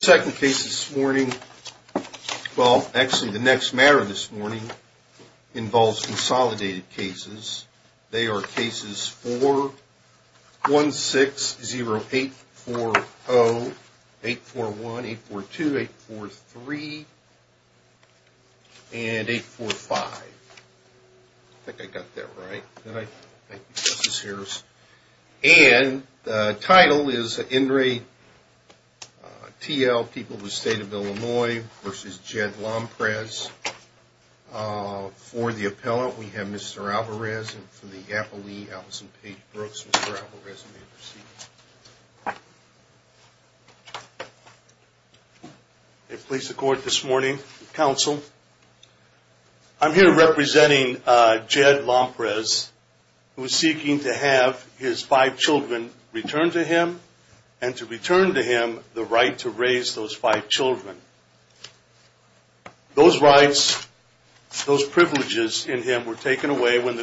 The second case this morning, well actually the next matter this morning, involves consolidated cases. They are cases 4, 1-6-0-8-4-0, 8-4-1, 8-4-2, 8-4-3, and 8-4-5. I think I got that right. Thank you, Justice Harris. And the title is In Re T.L. People of the State of Illinois v. Jed Lomprez. For the appellant, we have Mr. Alvarez. And for the appellee, Allison Paige Brooks. Mr. Alvarez, you may proceed. I place the court this morning. Counsel. I'm here representing Jed Lomprez, who is seeking to have his five children returned to him, and to return to him the right to raise those five children. Those rights, those privileges in him were taken away when the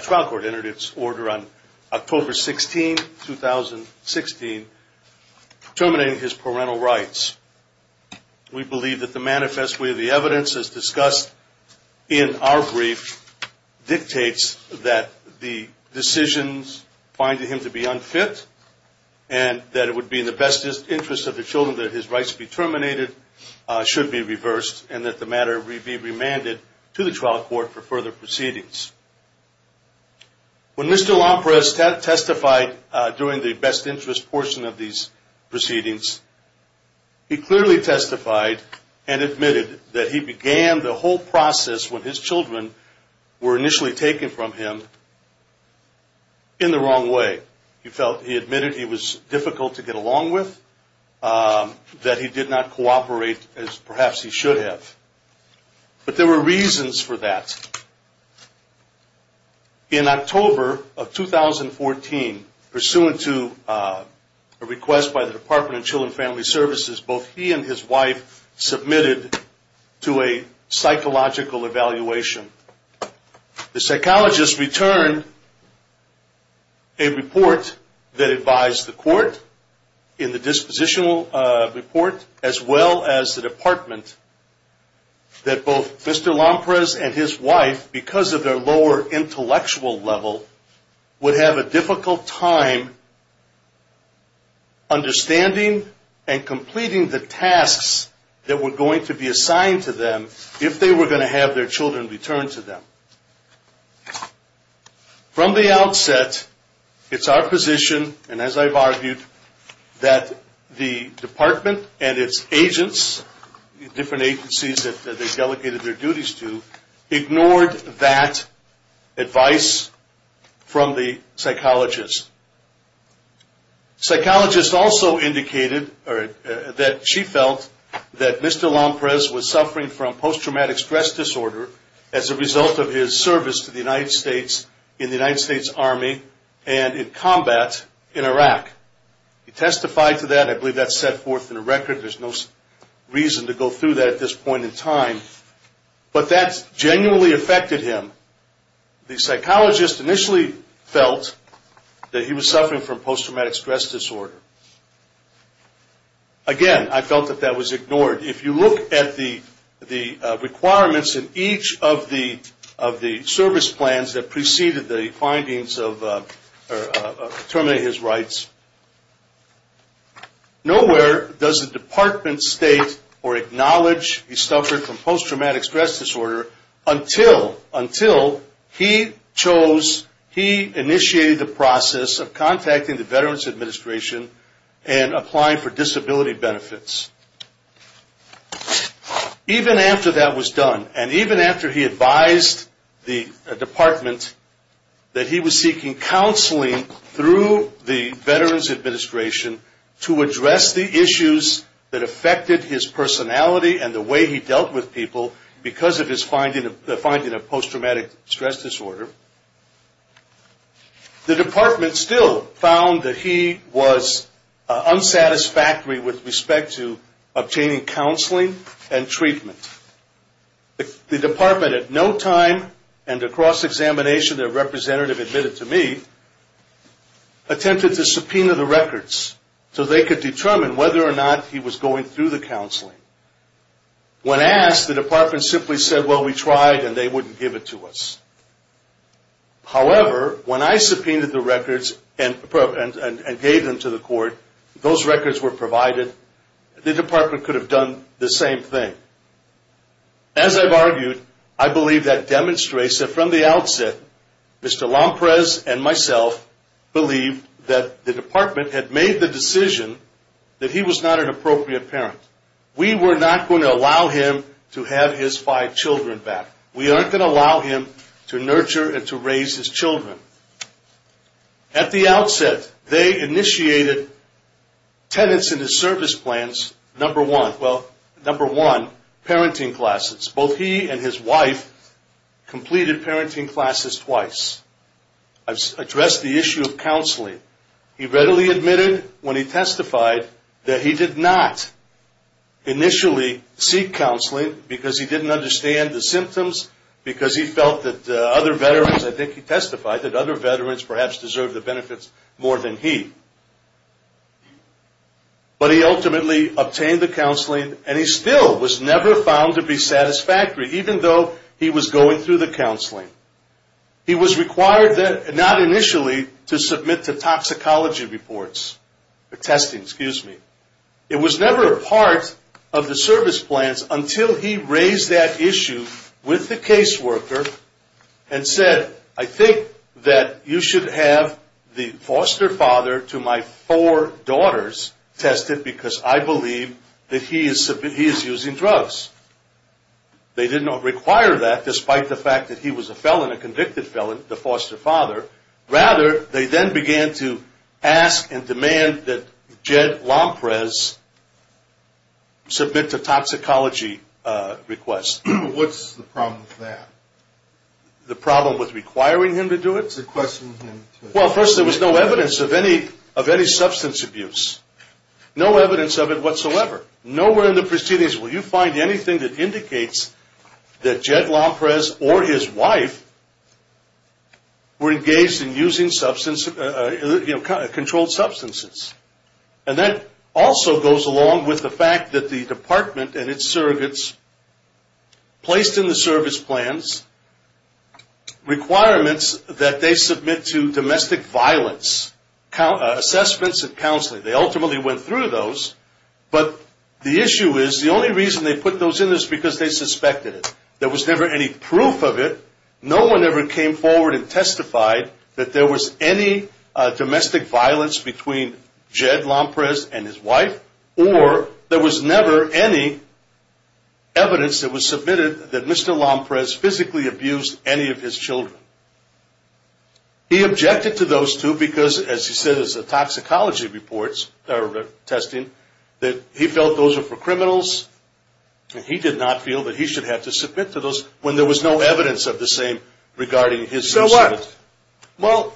trial court entered its order on October 16, 2016, terminating his parental rights. We believe that the manifest way of the evidence, as discussed in our brief, dictates that the decisions finding him to be unfit, and that it would be in the best interest of the children that his rights be terminated, should be reversed, and that the matter be remanded to the trial court for further proceedings. When Mr. Lomprez testified during the best interest portion of these proceedings, he clearly testified and admitted that he began the whole process when his children were initially taken from him in the wrong way. He felt he admitted he was difficult to get along with, that he did not cooperate as perhaps he should have. But there were reasons for that. In October of 2014, pursuant to a request by the Department of Children and Family Services, both he and his wife submitted to a psychological evaluation. The psychologist returned a report that advised the court in the dispositional report, as well as the department, that both Mr. Lomprez and his wife, because of their lower intellectual level, would have a difficult time understanding and completing the tasks that were going to be assigned to them if they were going to have their children returned to them. From the outset, it's our position, and as I've argued, that the department and its agents, different agencies that they delegated their duties to, ignored that advice from the psychologist. Psychologist also indicated that she felt that Mr. Lomprez was suffering from post-traumatic stress disorder as a result of his service to the United States in the United States Army and in combat in Iraq. He testified to that. I believe that's set forth in the record. There's no reason to go through that at this point in time. But that genuinely affected him. The psychologist initially felt that he was suffering from post-traumatic stress disorder. Again, I felt that that was ignored. If you look at the requirements in each of the service plans that preceded the findings of terminating his rights, nowhere does the department state or acknowledge he suffered from post-traumatic stress disorder until he chose, he initiated the process of contacting the Veterans Administration and applying for disability benefits. Even after that was done, and even after he advised the department that he was seeking counseling through the Veterans Administration to address the issues that affected his personality and the way he dealt with people because of his finding of post-traumatic stress disorder, the department still found that he was unsatisfactory with respect to obtaining counseling and treatment. The department at no time and across examination, their representative admitted to me, attempted to subpoena the records so they could determine whether or not he was going through the counseling. When asked, the department simply said, well, we tried and they wouldn't give it to us. However, when I subpoenaed the records and gave them to the court, those records were provided. The department could have done the same thing. As I've argued, I believe that demonstrates that from the outset, Mr. Lompres and myself believed that the department had made the decision that he was not an appropriate parent. We were not going to allow him to have his five children back. We aren't going to allow him to nurture and to raise his children. At the outset, they initiated tenants in his service plans, number one, well, number one, parenting classes. Both he and his wife completed parenting classes twice. I've addressed the issue of counseling. He readily admitted when he testified that he did not initially seek counseling because he didn't understand the symptoms, because he felt that other veterans, I think he testified, that other veterans perhaps deserved the benefits more than he. But he ultimately obtained the counseling and he still was never found to be satisfactory, even though he was going through the counseling. He was required not initially to submit to toxicology reports or testing, excuse me. It was never a part of the service plans until he raised that issue with the caseworker and said, I think that you should have the foster father to my four daughters tested because I believe that he is using drugs. They did not require that, despite the fact that he was a felon, a convicted felon, the foster father. Rather, they then began to ask and demand that Jed Lomprez submit to toxicology requests. What's the problem with that? The problem with requiring him to do it? To question him. Well, first, there was no evidence of any substance abuse. No evidence of it whatsoever. Nowhere in the proceedings will you find anything that indicates that Jed Lomprez or his wife were engaged in using controlled substances. And that also goes along with the fact that the department and its surrogates placed in the service plans requirements that they submit to domestic violence assessments and counseling. They ultimately went through those, but the issue is the only reason they put those in is because they suspected it. There was never any proof of it. No one ever came forward and testified that there was any domestic violence between Jed Lomprez and his wife, or there was never any evidence that was submitted that Mr. Lomprez physically abused any of his children. He objected to those two because, as he said, as the toxicology reports are testing, that he felt those were for criminals, and he did not feel that he should have to submit to those when there was no evidence of the same regarding his... So what? Well...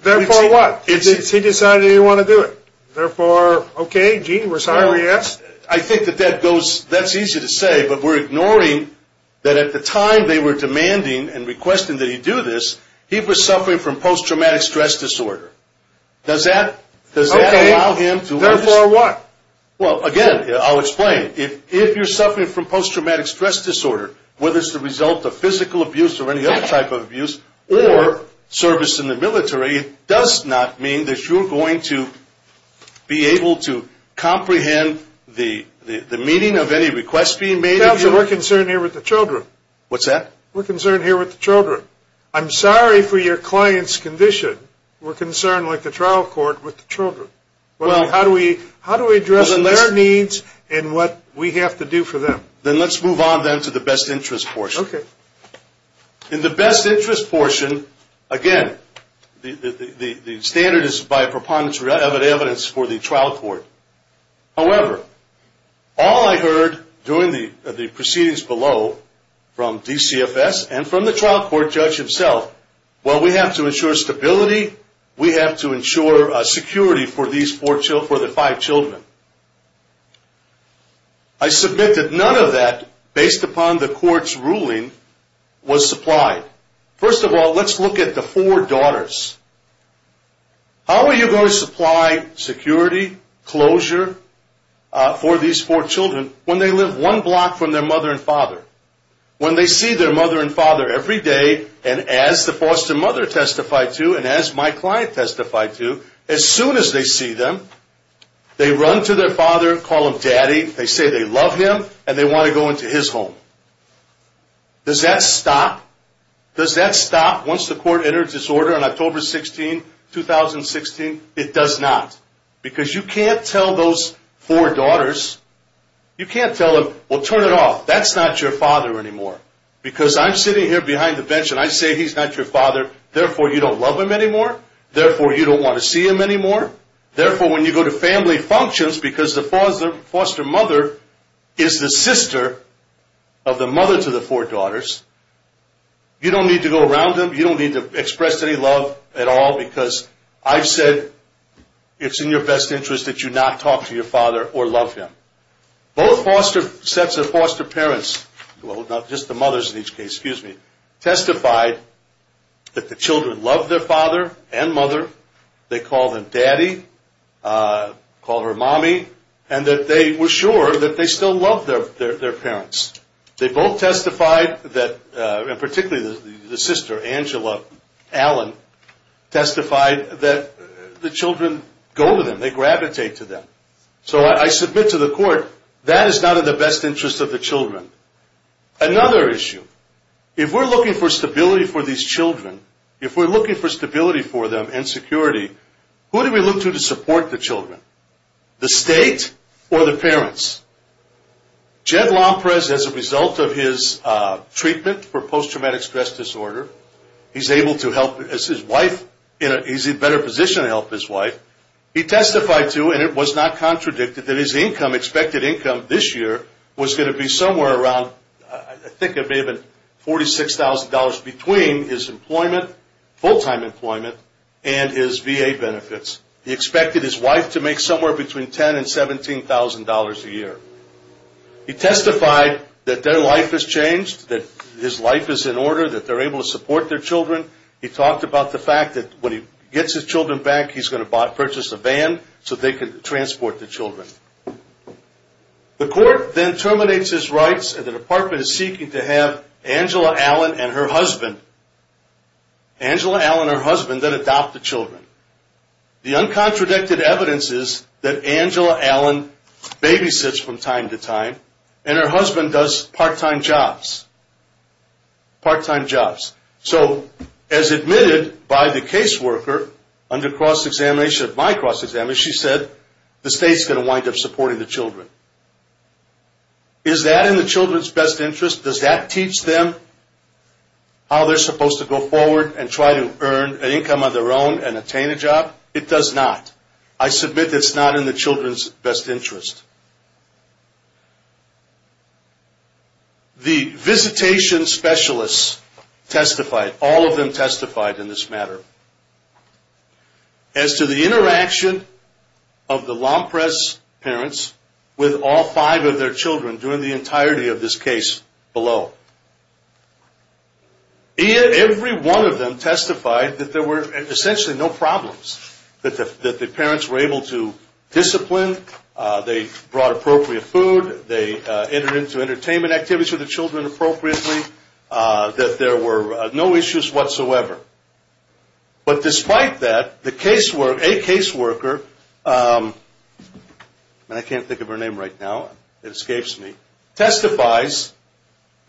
Therefore what? He decided he didn't want to do it. Therefore, okay, gee, we're sorry we asked. I think that that goes, that's easy to say, but we're ignoring that at the time they were demanding and requesting that he do this, he was suffering from post-traumatic stress disorder. Does that allow him to... Okay. Therefore what? Well, again, I'll explain. If you're suffering from post-traumatic stress disorder, whether it's the result of physical abuse or any other type of abuse or service in the military, it does not mean that you're going to be able to comprehend the meaning of any request being made... Counselor, we're concerned here with the children. What's that? We're concerned here with the children. I'm sorry for your client's condition. We're concerned, like the trial court, with the children. Well... How do we address their needs and what we have to do for them? Then let's move on then to the best interest portion. Okay. In the best interest portion, again, the standard is by preponderance of evidence for the trial court. However, all I heard during the proceedings below from DCFS and from the trial court judge himself, while we have to ensure stability, we have to ensure security for the five children. I submit that none of that, based upon the court's ruling, was supplied. First of all, let's look at the four daughters. How are you going to supply security, closure for these four children when they live one block from their mother and father? When they see their mother and father every day, and as the foster mother testified to and as my client testified to, as soon as they see them, they run to their father, call him daddy, they say they love him, and they want to go into his home. Does that stop? Does that stop once the court enters its order on October 16, 2016? It does not. Because you can't tell those four daughters... You can't tell them, well, turn it off. That's not your father anymore. Because I'm sitting here behind the bench and I say he's not your father, therefore you don't love him anymore, therefore you don't want to see him anymore, therefore when you go to family functions, because the foster mother is the sister of the mother to the four daughters, you don't need to go around them, you don't need to express any love at all, because I've said it's in your best interest that you not talk to your father or love him. Both sets of foster parents, well, not just the mothers in each case, excuse me, testified that the children loved their father and mother, they called them daddy, called her mommy, and that they were sure that they still loved their parents. They both testified that, and particularly the sister, Angela Allen, testified that the children go to them, they gravitate to them. So I submit to the court, that is not in the best interest of the children. Another issue, if we're looking for stability for these children, if we're looking for stability for them and security, who do we look to to support the children? The state or the parents? Jed Lomprez, as a result of his treatment for post-traumatic stress disorder, he's able to help his wife, he's in a better position to help his wife, he testified to, and it was not contradicted, that his income, expected income this year, was going to be somewhere around, I think it may have been $46,000 between his employment, full-time employment, and his VA benefits. He expected his wife to make somewhere between $10,000 and $17,000 a year. He testified that their life has changed, that his life is in order, that they're able to support their children. He talked about the fact that when he gets his children back, he's going to purchase a van so they can transport the children. The court then terminates his rights, and the department is seeking to have Angela Allen and her husband, Angela Allen and her husband, then adopt the children. The uncontradicted evidence is that Angela Allen babysits from time to time, and her husband does part-time jobs. Part-time jobs. So, as admitted by the caseworker, under cross-examination of my cross-examination, she said the state's going to wind up supporting the children. Is that in the children's best interest? Does that teach them how they're supposed to go forward and try to earn an income of their own and attain a job? It does not. I submit it's not in the children's best interest. The visitation specialists testified, all of them testified in this matter, as to the interaction of the Lomprez parents with all five of their children during the entirety of this case below. Every one of them testified that there were essentially no problems, that the parents were able to discipline, they brought appropriate food, they entered into entertainment activities with the children appropriately, that there were no issues whatsoever. But despite that, a caseworker, and I can't think of her name right now, it escapes me, testifies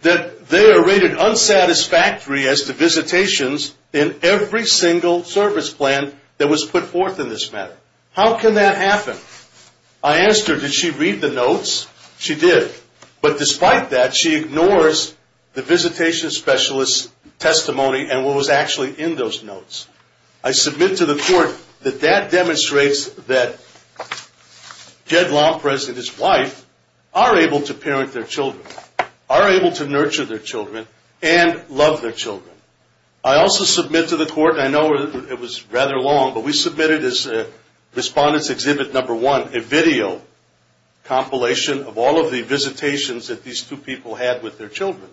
that they are rated unsatisfactory as to visitations in every single service plan that was put forth in this matter. How can that happen? I asked her, did she read the notes? She did. But despite that, she ignores the visitation specialist's testimony and what was actually in those notes. I submit to the court that that demonstrates that Ted Lomprez and his wife are able to parent their children, are able to nurture their children, and love their children. I also submit to the court, and I know it was rather long, but we submitted as Respondents Exhibit No. 1, a video compilation of all of the visitations that these two people had with their children.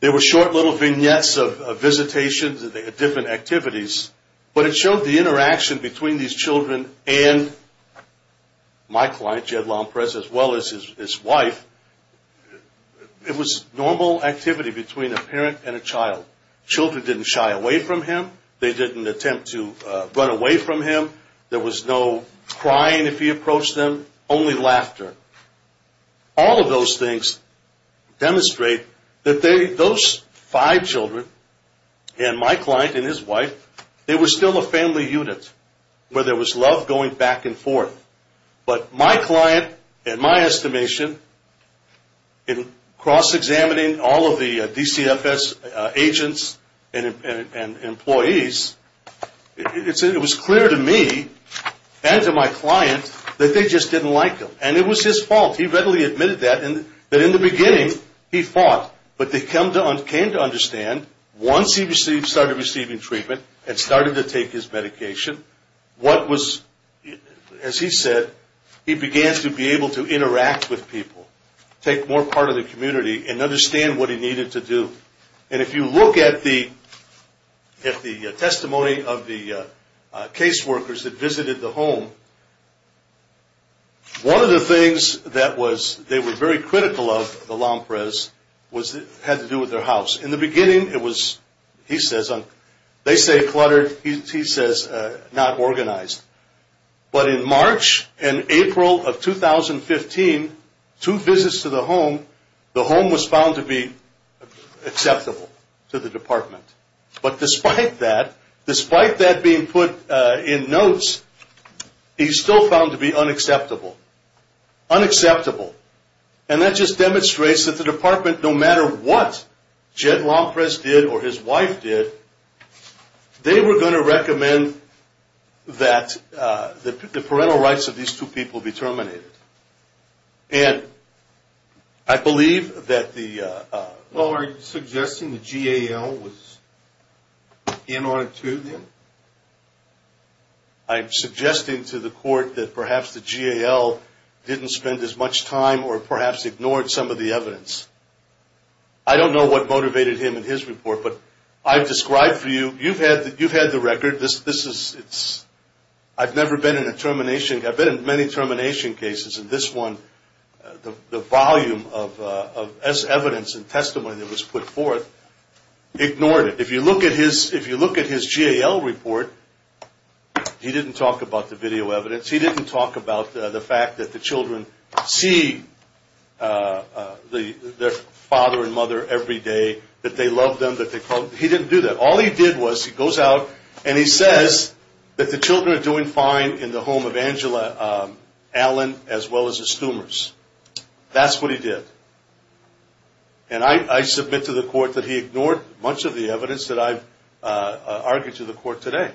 There were short little vignettes of visitations and different activities, but it showed the interaction between these children and my client, Jed Lomprez, as well as his wife. It was normal activity between a parent and a child. Children didn't shy away from him. They didn't attempt to run away from him. There was no crying if he approached them, only laughter. All of those things demonstrate that those five children and my client and his wife, they were still a family unit where there was love going back and forth. But my client, in my estimation, in cross-examining all of the DCFS agents and employees, it was clear to me and to my client that they just didn't like him. And it was his fault. He readily admitted that, that in the beginning he fought. But they came to understand, once he started receiving treatment and started to take his medication, what was, as he said, he began to be able to interact with people, take more part of the community and understand what he needed to do. And if you look at the testimony of the caseworkers that visited the home, one of the things that was, they were very critical of the Lomprez, had to do with their house. In the beginning, it was, he says, they say cluttered, he says not organized. But in March and April of 2015, two visits to the home, the home was found to be acceptable to the department. But despite that, despite that being put in notes, he's still found to be unacceptable. Unacceptable. And that just demonstrates that the department, no matter what Jed Lomprez did or his wife did, they were going to recommend that the parental rights of these two people be terminated. And I believe that the... Well, are you suggesting the GAL was in on it too then? I'm suggesting to the court that perhaps the GAL didn't spend as much time or perhaps ignored some of the evidence. I don't know what motivated him in his report, but I've described for you, you've had the record. This is, I've never been in a termination, I've been in many termination cases, and this one, the volume of evidence and testimony that was put forth ignored it. If you look at his GAL report, he didn't talk about the video evidence. He didn't talk about the fact that the children see their father and mother every day, that they love them, that they call them. He didn't do that. All he did was he goes out and he says that the children are doing fine in the home of Angela Allen, as well as the Stoomers. That's what he did. And I submit to the court that he ignored much of the evidence that I've argued to the court today.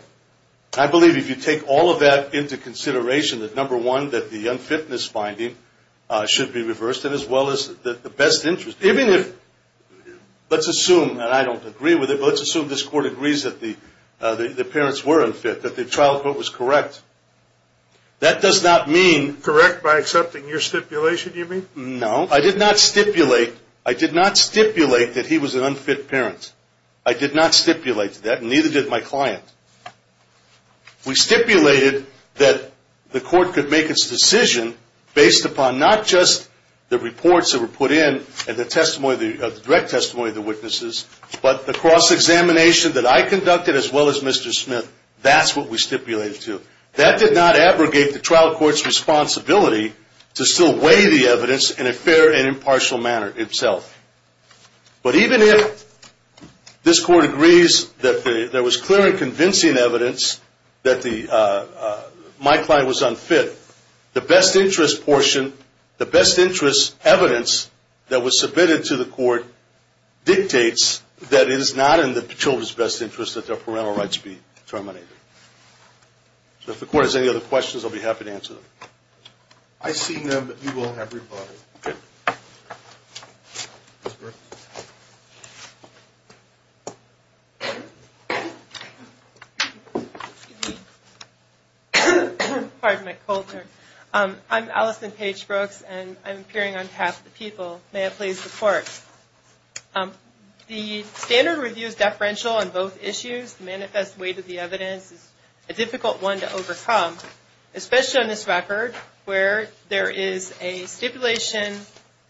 I believe if you take all of that into consideration, that number one, that the unfitness finding should be reversed, and as well as the best interest. Even if, let's assume, and I don't agree with it, but let's assume this court agrees that the parents were unfit, that the trial court was correct. That does not mean. Correct by accepting your stipulation, you mean? No. I did not stipulate that he was an unfit parent. I did not stipulate that, and neither did my client. We stipulated that the court could make its decision based upon not just the reports that were put in and the direct testimony of the witnesses, but the cross-examination that I conducted as well as Mr. Smith. That's what we stipulated to. That did not abrogate the trial court's responsibility to still weigh the evidence in a fair and impartial manner itself. But even if this court agrees that there was clear and convincing evidence that my client was unfit, the best interest portion, the best interest evidence that was submitted to the court, dictates that it is not in the children's best interest that their parental rights be terminated. So if the court has any other questions, I'll be happy to answer them. I see none, but we will have rebuttal. Okay. Ms. Brooks? Pardon my cold turn. I'm Allison Paige Brooks, and I'm appearing on behalf of the people. May I please report? The standard review is deferential on both issues. The manifest weight of the evidence is a difficult one to overcome, especially on this record where there is a stipulation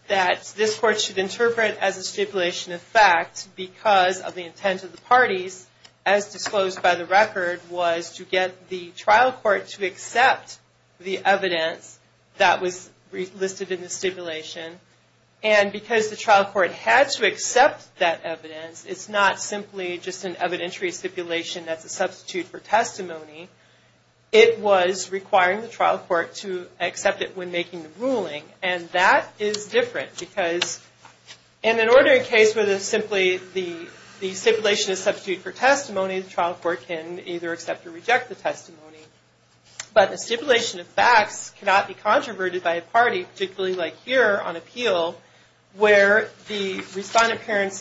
that this court should interpret as a stipulation of fact because of the intent of the parties, as disclosed by the record, was to get the trial court to accept the evidence that was listed in the stipulation. And because the trial court had to accept that evidence, it's not simply just an evidentiary stipulation that's a substitute for testimony. It was requiring the trial court to accept it when making the ruling, and that is different because in an ordinary case where there's simply the stipulation is a substitute for testimony, the trial court can either accept or reject the testimony. But a stipulation of facts cannot be controverted by a party, particularly like here on appeal, where the respondent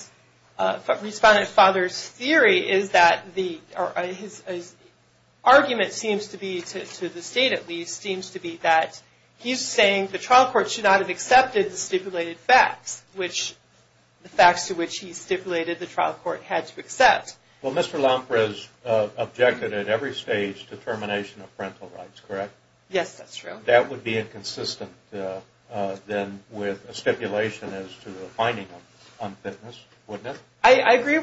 father's theory is that the argument seems to be, to the state at least, seems to be that he's saying the trial court should not have accepted the stipulated facts, which the facts to which he stipulated the trial court had to accept. Well, Mr. Lampres objected at every stage to termination of parental rights, correct? Yes, that's true. But that would be inconsistent then with a stipulation as to the finding of unfitness, wouldn't it? I agree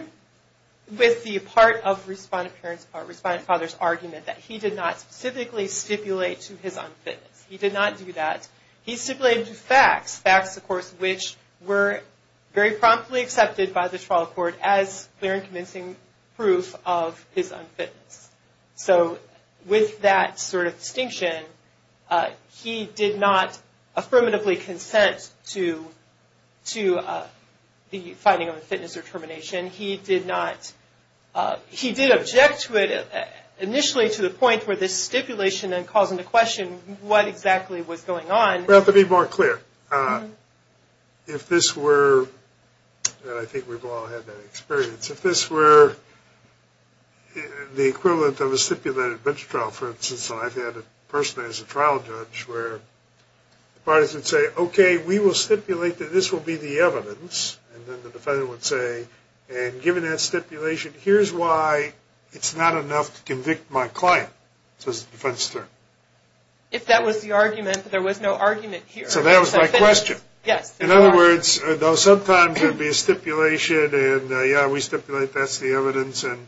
with the part of respondent parent's part, respondent father's argument, that he did not specifically stipulate to his unfitness. He did not do that. He stipulated to facts, facts, of course, which were very promptly accepted by the trial court as clear and convincing proof of his unfitness. So with that sort of distinction, he did not affirmatively consent to the finding of unfitness or termination. He did not, he did object to it initially to the point where this stipulation then calls into question what exactly was going on. Well, to be more clear, if this were, and I think we've all had that experience, if this were the equivalent of a stipulated bench trial, for instance, and I've had a person as a trial judge where the parties would say, okay, we will stipulate that this will be the evidence, and then the defendant would say, and given that stipulation, here's why it's not enough to convict my client, says the defense attorney. If that was the argument, there was no argument here. So that was my question. Yes. In other words, though sometimes there'd be a stipulation and, yeah, we stipulate that's the evidence, and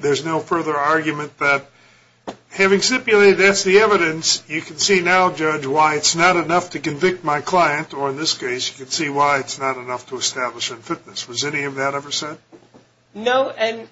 there's no further argument, but having stipulated that's the evidence, you can see now, Judge, why it's not enough to convict my client, or in this case you can see why it's not enough to establish unfitness. Was any of that ever said? No, and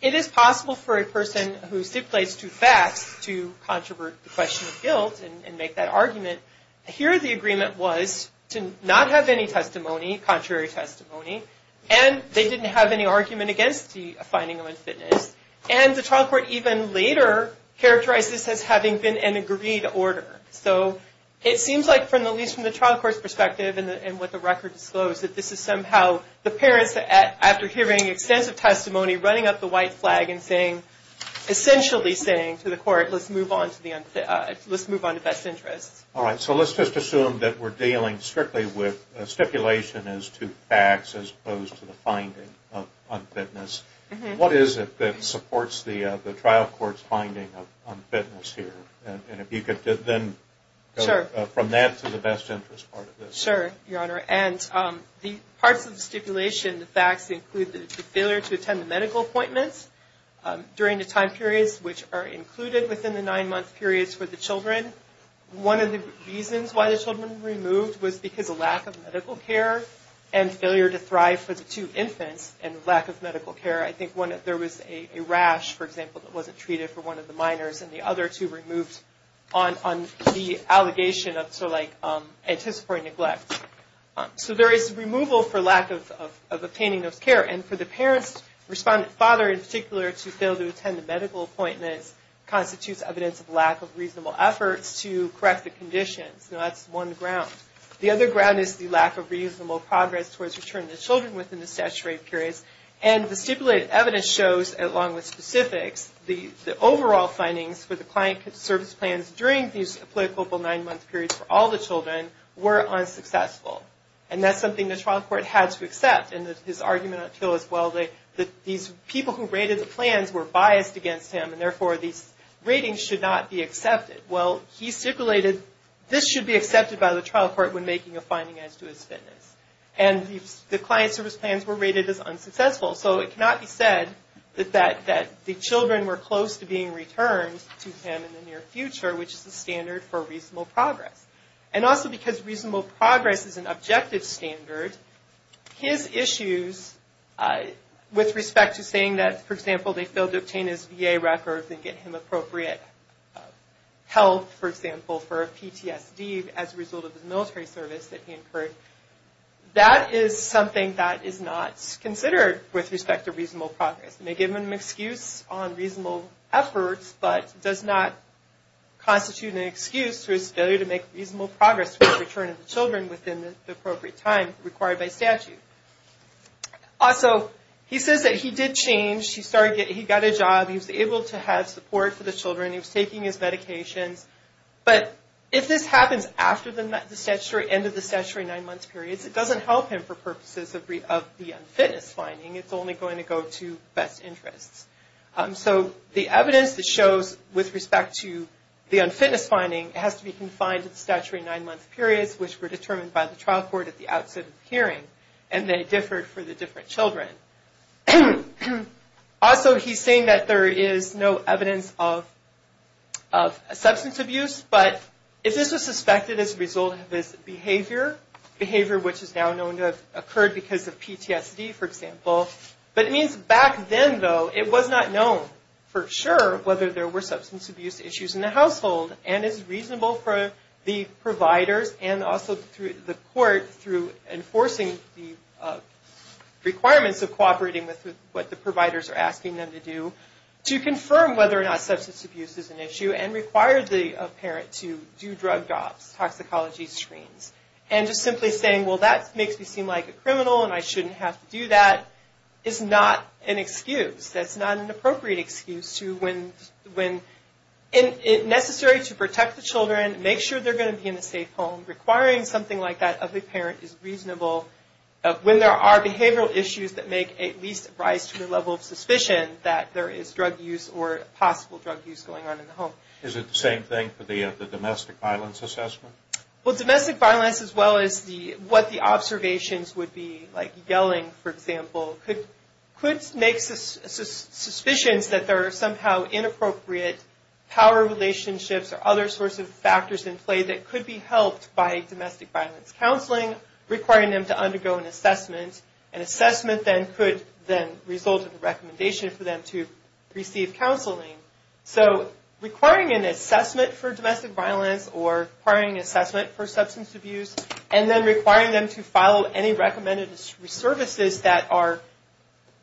it is possible for a person who stipulates two facts to controvert the question of guilt and make that argument. Here the agreement was to not have any testimony, contrary testimony, and they didn't have any argument against the finding of unfitness, and the trial court even later characterized this as having been an agreed order. So it seems like, at least from the trial court's perspective and what the record disclosed, that this is somehow the parents, after hearing extensive testimony, running up the white flag and saying, essentially saying to the court, let's move on to best interests. All right, so let's just assume that we're dealing strictly with stipulation as to facts as opposed to the finding of unfitness. What is it that supports the trial court's finding of unfitness here? And if you could then go from that to the best interests part of this. Sure, Your Honor, and the parts of the stipulation, the facts, include the failure to attend the medical appointments during the time periods which are included within the nine-month periods for the children. One of the reasons why the children were removed was because of lack of medical care and failure to thrive for the two infants and lack of medical care. I think there was a rash, for example, that wasn't treated for one of the minors, and the other two were removed on the allegation of anticipatory neglect. So there is removal for lack of obtaining those care. And for the parent's father, in particular, to fail to attend the medical appointments constitutes evidence of lack of reasonable efforts to correct the conditions. That's one ground. The other ground is the lack of reasonable progress towards returning the children within the statutory periods. And the stipulated evidence shows, along with specifics, the overall findings for the client service plans during these applicable nine-month periods for all the children were unsuccessful. And that's something the trial court had to accept, and his argument until as well, that these people who rated the plans were biased against him, and therefore these ratings should not be accepted. Well, he stipulated this should be accepted by the trial court when making a finding as to his fitness. And the client service plans were rated as unsuccessful, so it cannot be said that the children were close to being returned to him in the near future, which is the standard for reasonable progress. And also because reasonable progress is an objective standard, his issues with respect to saying that, for example, they failed to obtain his VA records and get him appropriate health, for example, for a PTSD as a result of his military service that he incurred, that is something that is not considered with respect to reasonable progress. It may give him an excuse on reasonable efforts, but does not constitute an excuse for his failure to make reasonable progress with the return of the children within the appropriate time required by statute. Also, he says that he did change. He got a job. He was able to have support for the children. He was taking his medications. But if this happens after the end of the statutory nine-month period, it doesn't help him for purposes of the unfitness finding. It's only going to go to best interests. So the evidence that shows with respect to the unfitness finding has to be confined to the statutory nine-month periods, which were determined by the trial court at the outset of the hearing, and they differed for the different children. Also, he's saying that there is no evidence of substance abuse, but if this was suspected as a result of his behavior, behavior which is now known to have occurred because of PTSD, for example, but it means back then, though, it was not known for sure whether there were substance abuse issues in the household, and it's reasonable for the providers and also the court, through enforcing the requirements of cooperating with what the providers are asking them to do, to confirm whether or not substance abuse is an issue and require the parent to do drug drops, toxicology screens. And just simply saying, well, that makes me seem like a criminal and I shouldn't have to do that, is not an excuse. That's not an appropriate excuse when necessary to protect the children, make sure they're going to be in a safe home, and requiring something like that of the parent is reasonable when there are behavioral issues that make at least rise to the level of suspicion that there is drug use or possible drug use going on in the home. Is it the same thing for the domestic violence assessment? Well, domestic violence as well as what the observations would be, like yelling, for example, could make suspicions that there are somehow inappropriate power relationships or other sorts of factors in play that could be helped by domestic violence counseling, requiring them to undergo an assessment. An assessment then could result in a recommendation for them to receive counseling. So requiring an assessment for domestic violence or requiring an assessment for substance abuse, and then requiring them to follow any recommended services that are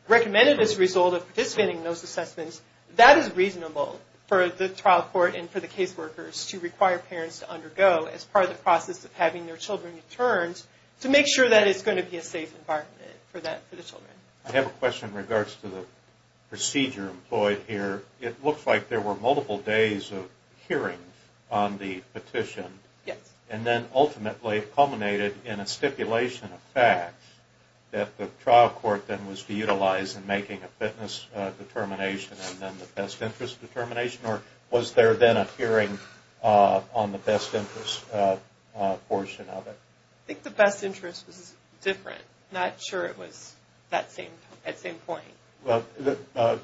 recommended as a result of participating in those assessments, that is reasonable for the trial court and for the case workers to require parents to undergo as part of the process of having their children returned to make sure that it's going to be a safe environment for the children. I have a question in regards to the procedure employed here. It looks like there were multiple days of hearing on the petition. Yes. And then ultimately it culminated in a stipulation of facts that the trial court then was to utilize in making a fitness determination and then the best interest determination? Or was there then a hearing on the best interest portion of it? I think the best interest was different. I'm not sure it was at that same point.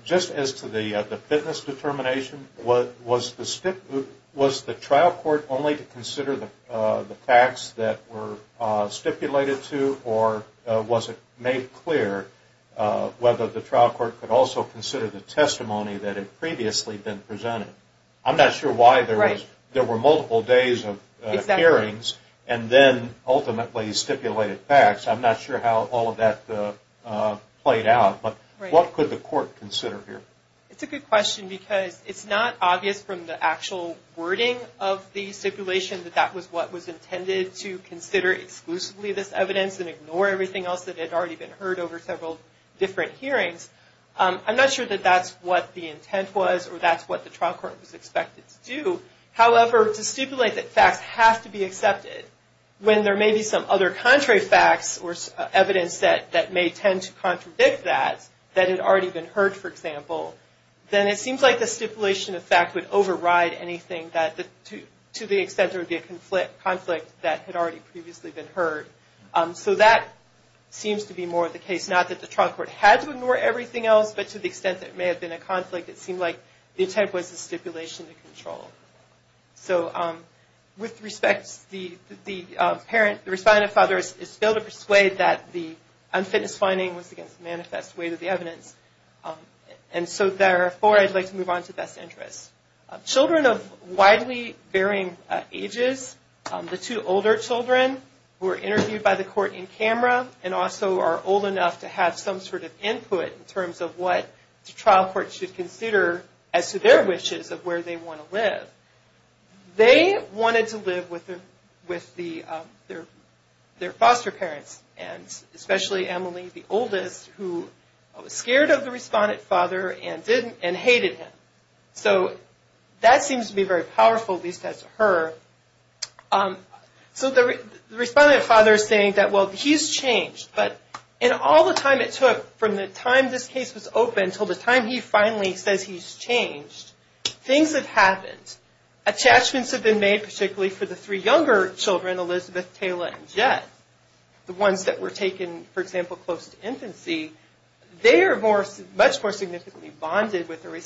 Just as to the fitness determination, was the trial court only to consider the facts that were stipulated to or was it made clear whether the trial court could also consider the testimony that had previously been presented? I'm not sure why there were multiple days of hearings and then ultimately stipulated facts. I'm not sure how all of that played out. But what could the court consider here? It's a good question because it's not obvious from the actual wording of the stipulation that that was what was intended to consider exclusively this evidence and ignore everything else that had already been heard over several different hearings. I'm not sure that that's what the intent was or that's what the trial court was expected to do. However, to stipulate that facts have to be accepted, when there may be some other contrary facts or evidence that may tend to contradict that, that had already been heard, for example, then it seems like the stipulation of fact would override anything to the extent there would be a conflict that had already previously been heard. So that seems to be more of the case. Not that the trial court had to ignore everything else, but to the extent that it may have been a conflict, it seemed like the intent was the stipulation to control. So with respect, the parent, the responding father, is still to persuade that the unfitness finding was against the manifest weight of the evidence. And so therefore, I'd like to move on to best interests. Children of widely varying ages, the two older children, who were interviewed by the court in camera, and also are old enough to have some sort of input in terms of what the trial court should consider as to their wishes of where they want to live. They wanted to live with their foster parents, and especially Emily, the oldest, who was scared of the responding father and hated him. So that seems to be very powerful, at least as her. So the responding father is saying that, well, he's changed, but in all the time it took from the time this case was open until the time he finally says he's changed, things have happened. Attachments have been made, particularly for the three younger children, Elizabeth, Tayla, and Jet. The ones that were taken, for example, close to infancy, they are much more significantly bonded with the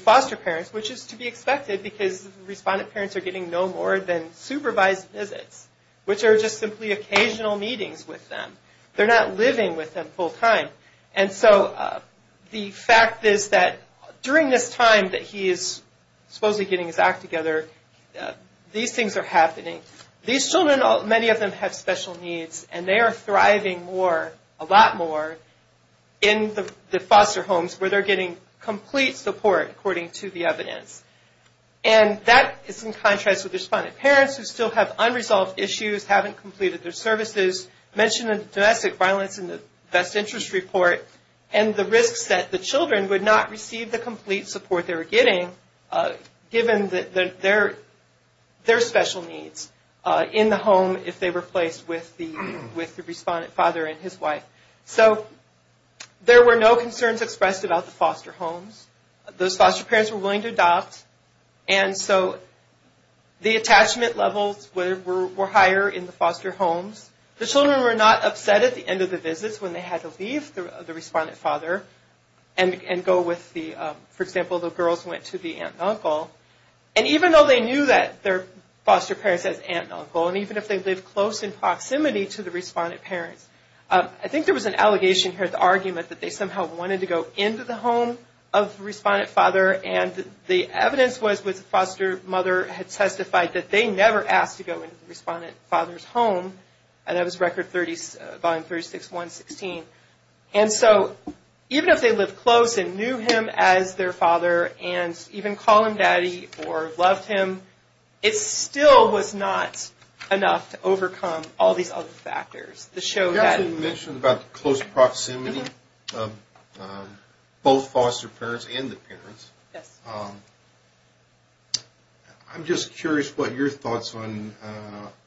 foster parents, which is to be expected, because responding parents are getting no more than supervised visits, which are just simply occasional meetings with them. They're not living with them full time. And so the fact is that during this time that he is supposedly getting his act together, these things are happening. These children, many of them have special needs, and they are thriving a lot more in the foster homes where they're getting complete support according to the evidence. And that is in contrast with responding parents who still have unresolved issues, haven't completed their services, mentioned domestic violence in the best interest report, and the risks that the children would not receive the complete support they were getting given their special needs in the home if they were placed with the respondent father and his wife. So there were no concerns expressed about the foster homes. Those foster parents were willing to adopt, and so the attachment levels were higher in the foster homes. The children were not upset at the end of the visits when they had to leave the respondent father and go with the, for example, the girls went to the aunt and uncle. And even though they knew that their foster parents had aunt and uncle, and even if they lived close in proximity to the respondent parents, I think there was an allegation here, the argument, that they somehow wanted to go into the home of the respondent father, and the evidence was that the foster mother had testified that they never asked to go into the respondent father's home, and that was Record Volume 36116. And so even if they lived close and knew him as their father, and even called him daddy or loved him, it still was not enough to overcome all these other factors. The show that... You actually mentioned about the close proximity of both foster parents and the parents. Yes. I'm just curious what your thoughts on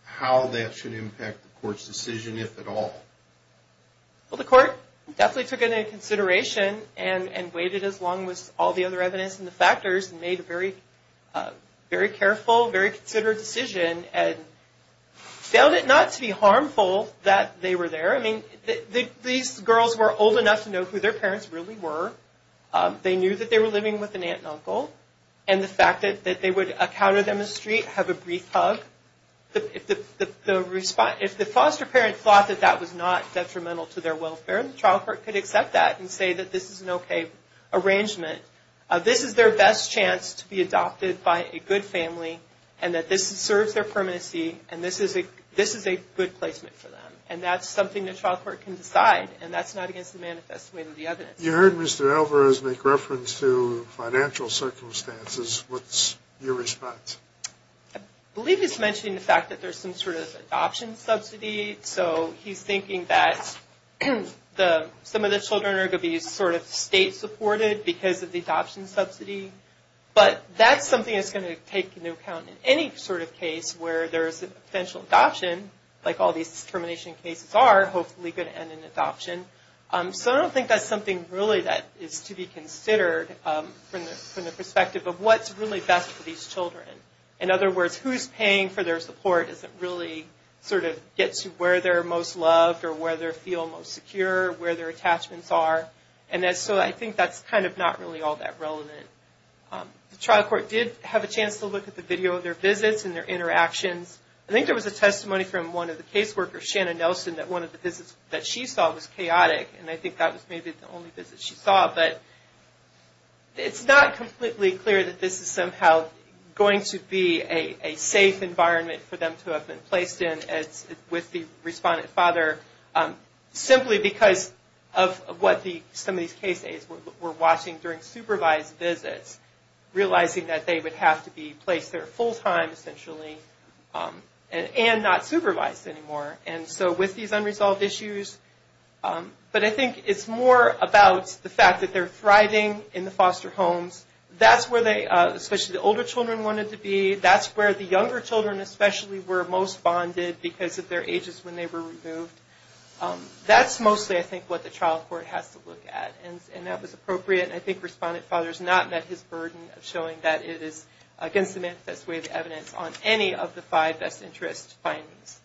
how that should impact the court's decision, if at all. Well, the court definitely took it into consideration, and waited as long as all the other evidence and the factors, and made a very careful, very considerate decision, and failed it not to be harmful that they were there. I mean, these girls were old enough to know who their parents really were. They knew that they were living with an aunt and uncle, and the fact that they would encounter them in the street, have a brief hug, if the foster parent thought that that was not detrimental to their welfare, the trial court could accept that and say that this is an okay arrangement. This is their best chance to be adopted by a good family, and that this serves their permanency, and this is a good placement for them. And that's something the trial court can decide, and that's not against the manifest way of the evidence. You heard Mr. Alvarez make reference to financial circumstances. What's your response? I believe he's mentioning the fact that there's some sort of adoption subsidy, so he's thinking that some of the children are going to be state supported, because of the adoption subsidy. But that's something that's going to take into account in any sort of case, where there's an eventual adoption, like all these termination cases are, hopefully going to end in adoption. So I don't think that's something really that is to be considered, from the perspective of what's really best for these children. In other words, who's paying for their support, doesn't really sort of get to where they're most loved, or where they feel most secure, where their attachments are. And so I think that's kind of not really all that relevant. The trial court did have a chance to look at the video of their visits, and their interactions. I think there was a testimony from one of the case workers, Shannon Nelson, that one of the visits that she saw was chaotic, and I think that was maybe the only visit she saw. But it's not completely clear that this is somehow going to be a safe environment for them to have been placed in, with the respondent father, simply because of what some of these case aides were watching during supervised visits, realizing that they would have to be placed there full time, essentially, and not supervised anymore. And so with these unresolved issues, but I think it's more about the fact that they're thriving in the foster homes. That's where they, especially the older children, wanted to be. That's where the younger children, especially, were most bonded, because of their ages when they were removed. That's mostly, I think, what the trial court has to look at. And that was appropriate, and I think respondent father's not met his burden of showing that it is against the manifest way of evidence on any of the five best interest findings.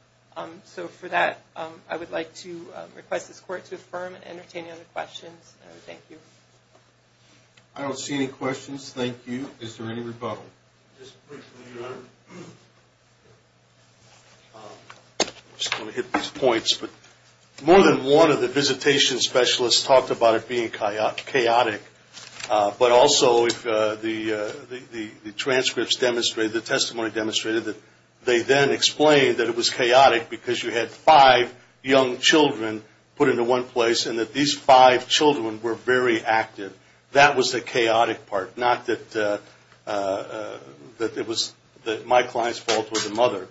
So for that, I would like to request this court to affirm and entertain any other questions. Thank you. I don't see any questions. Thank you. Is there any rebuttal? I'm just going to hit these points. More than one of the visitation specialists talked about it being chaotic. But also, the transcripts demonstrated, the testimony demonstrated, that they then explained that it was chaotic, because you had five young children put into one place, and that these five children were very active. That was the chaotic part. Not that it was my client's fault or the mother.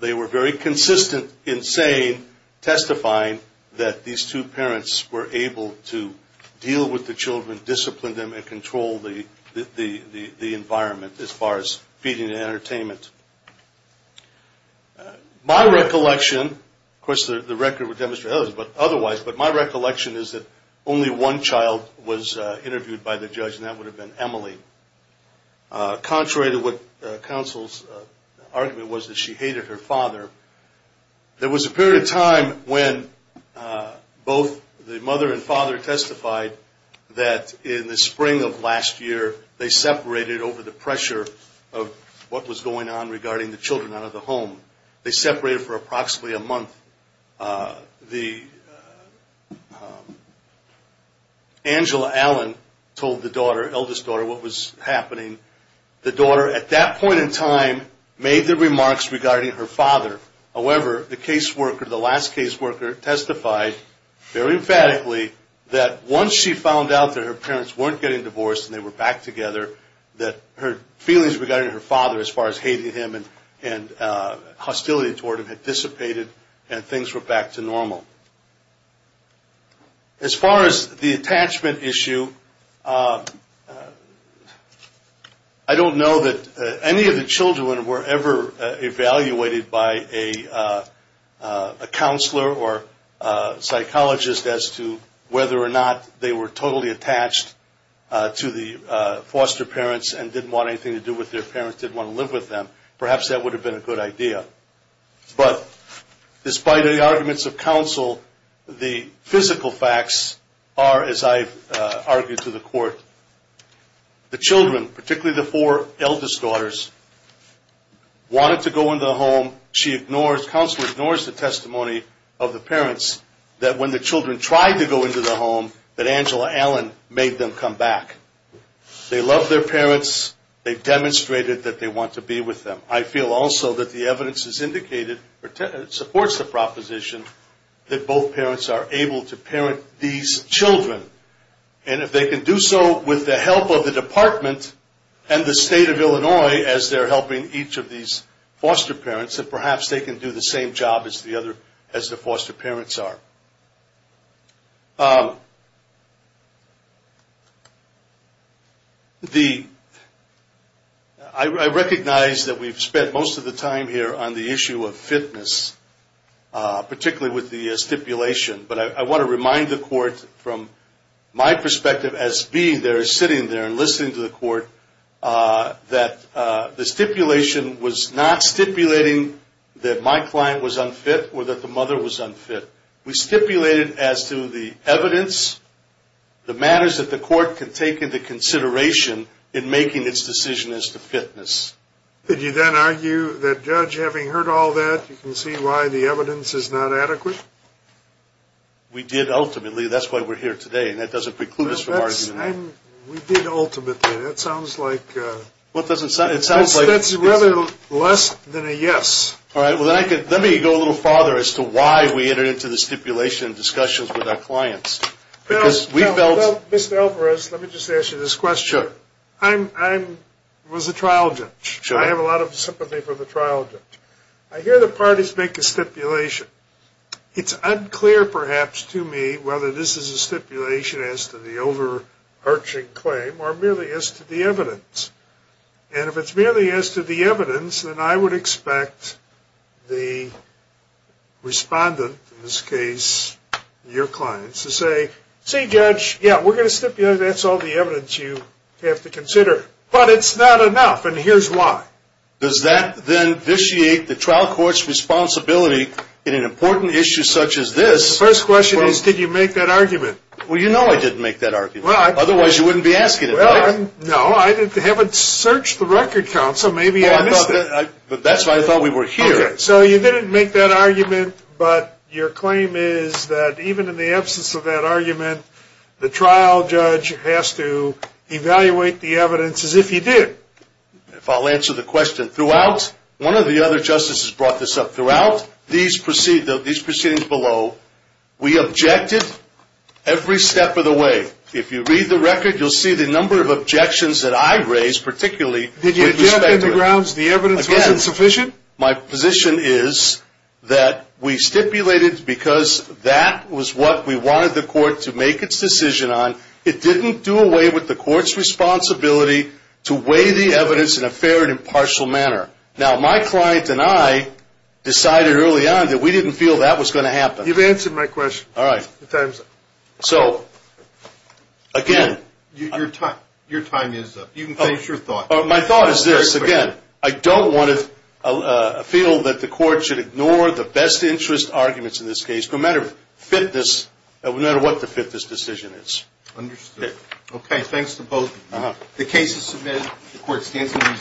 They were very consistent in saying, testifying, that these two parents were able to deal with the children, discipline them, and control the environment, as far as feeding and entertainment. My recollection, of course the record would demonstrate otherwise, but my recollection is that only one child was interviewed by the judge, and that would have been Emily. Contrary to what counsel's argument was that she hated her father, there was a period of time when both the mother and father testified that in the spring of last year, they separated over the pressure of what was going on regarding the children out of the home. They separated for approximately a month. Angela Allen told the daughter, the eldest daughter, what was happening. The daughter, at that point in time, made the remarks regarding her father. However, the caseworker, the last caseworker, testified very emphatically that once she found out that her parents weren't getting divorced and they were back together, that her feelings regarding her father, as far as hating him and hostility toward him, had dissipated and things were back to normal. As far as the attachment issue, I don't know that any of the children were ever evaluated by a counselor or psychologist as to whether or not they were totally attached to the foster parents and didn't want anything to do with their parents, didn't want to live with them. Perhaps that would have been a good idea. But despite the arguments of counsel, the physical facts are, as I've argued to the court, the children, particularly the four eldest daughters, wanted to go into the home. Counsel ignores the testimony of the parents that when the children tried to go into the home, that Angela Allen made them come back. They love their parents. They've demonstrated that they want to be with them. I feel also that the evidence supports the proposition that both parents are able to parent these children. And if they can do so with the help of the department and the state of Illinois, as they're helping each of these foster parents, that perhaps they can do the same job as the foster parents are. I recognize that we've spent most of the time here on the issue of fitness, particularly with the stipulation, but I want to remind the court from my perspective as being there, and listening to the court, that the stipulation was not stipulating that my client was unfit or that the mother was unfit. We stipulated as to the evidence, the matters that the court can take into consideration in making its decision as to fitness. Did you then argue that, Judge, having heard all that, you can see why the evidence is not adequate? We did ultimately. That's why we're here today. And that doesn't preclude us from arguing that. Yes. We did ultimately. That sounds like... It sounds like... That's rather less than a yes. All right. Let me go a little farther as to why we entered into the stipulation discussions with our clients. Because we felt... Mr. Alvarez, let me just ask you this question. Sure. I was a trial judge. Sure. I have a lot of sympathy for the trial judge. I hear the parties make a stipulation. It's unclear, perhaps, to me whether this is a stipulation as to the overarching claim or merely as to the evidence. And if it's merely as to the evidence, then I would expect the respondent, in this case your clients, to say, See, Judge, yeah, we're going to stipulate. That's all the evidence you have to consider. But it's not enough, and here's why. Does that then vitiate the trial court's responsibility in an important issue such as this? The first question is, did you make that argument? Well, you know I didn't make that argument. Otherwise, you wouldn't be asking it. No, I haven't searched the Record Council. Maybe I missed it. That's why I thought we were here. Okay. So you didn't make that argument, but your claim is that even in the absence of that argument, the trial judge has to evaluate the evidence as if he did. If I'll answer the question. Throughout, one of the other justices brought this up, throughout these proceedings below, we objected every step of the way. If you read the record, you'll see the number of objections that I raised, particularly with respect to it. Did you jump into grounds the evidence wasn't sufficient? Again, my position is that we stipulated because that was what we wanted the court to make its decision on. It didn't do away with the court's responsibility to weigh the evidence in a fair and impartial manner. Now, my client and I decided early on that we didn't feel that was going to happen. You've answered my question. All right. So, again. Your time is up. You can finish your thought. My thought is this. Again, I don't want to feel that the court should ignore the best interest arguments in this case, no matter what the fifthest decision is. Understood. Okay. Thanks to both of you. The case is submitted. The court stands adjourned.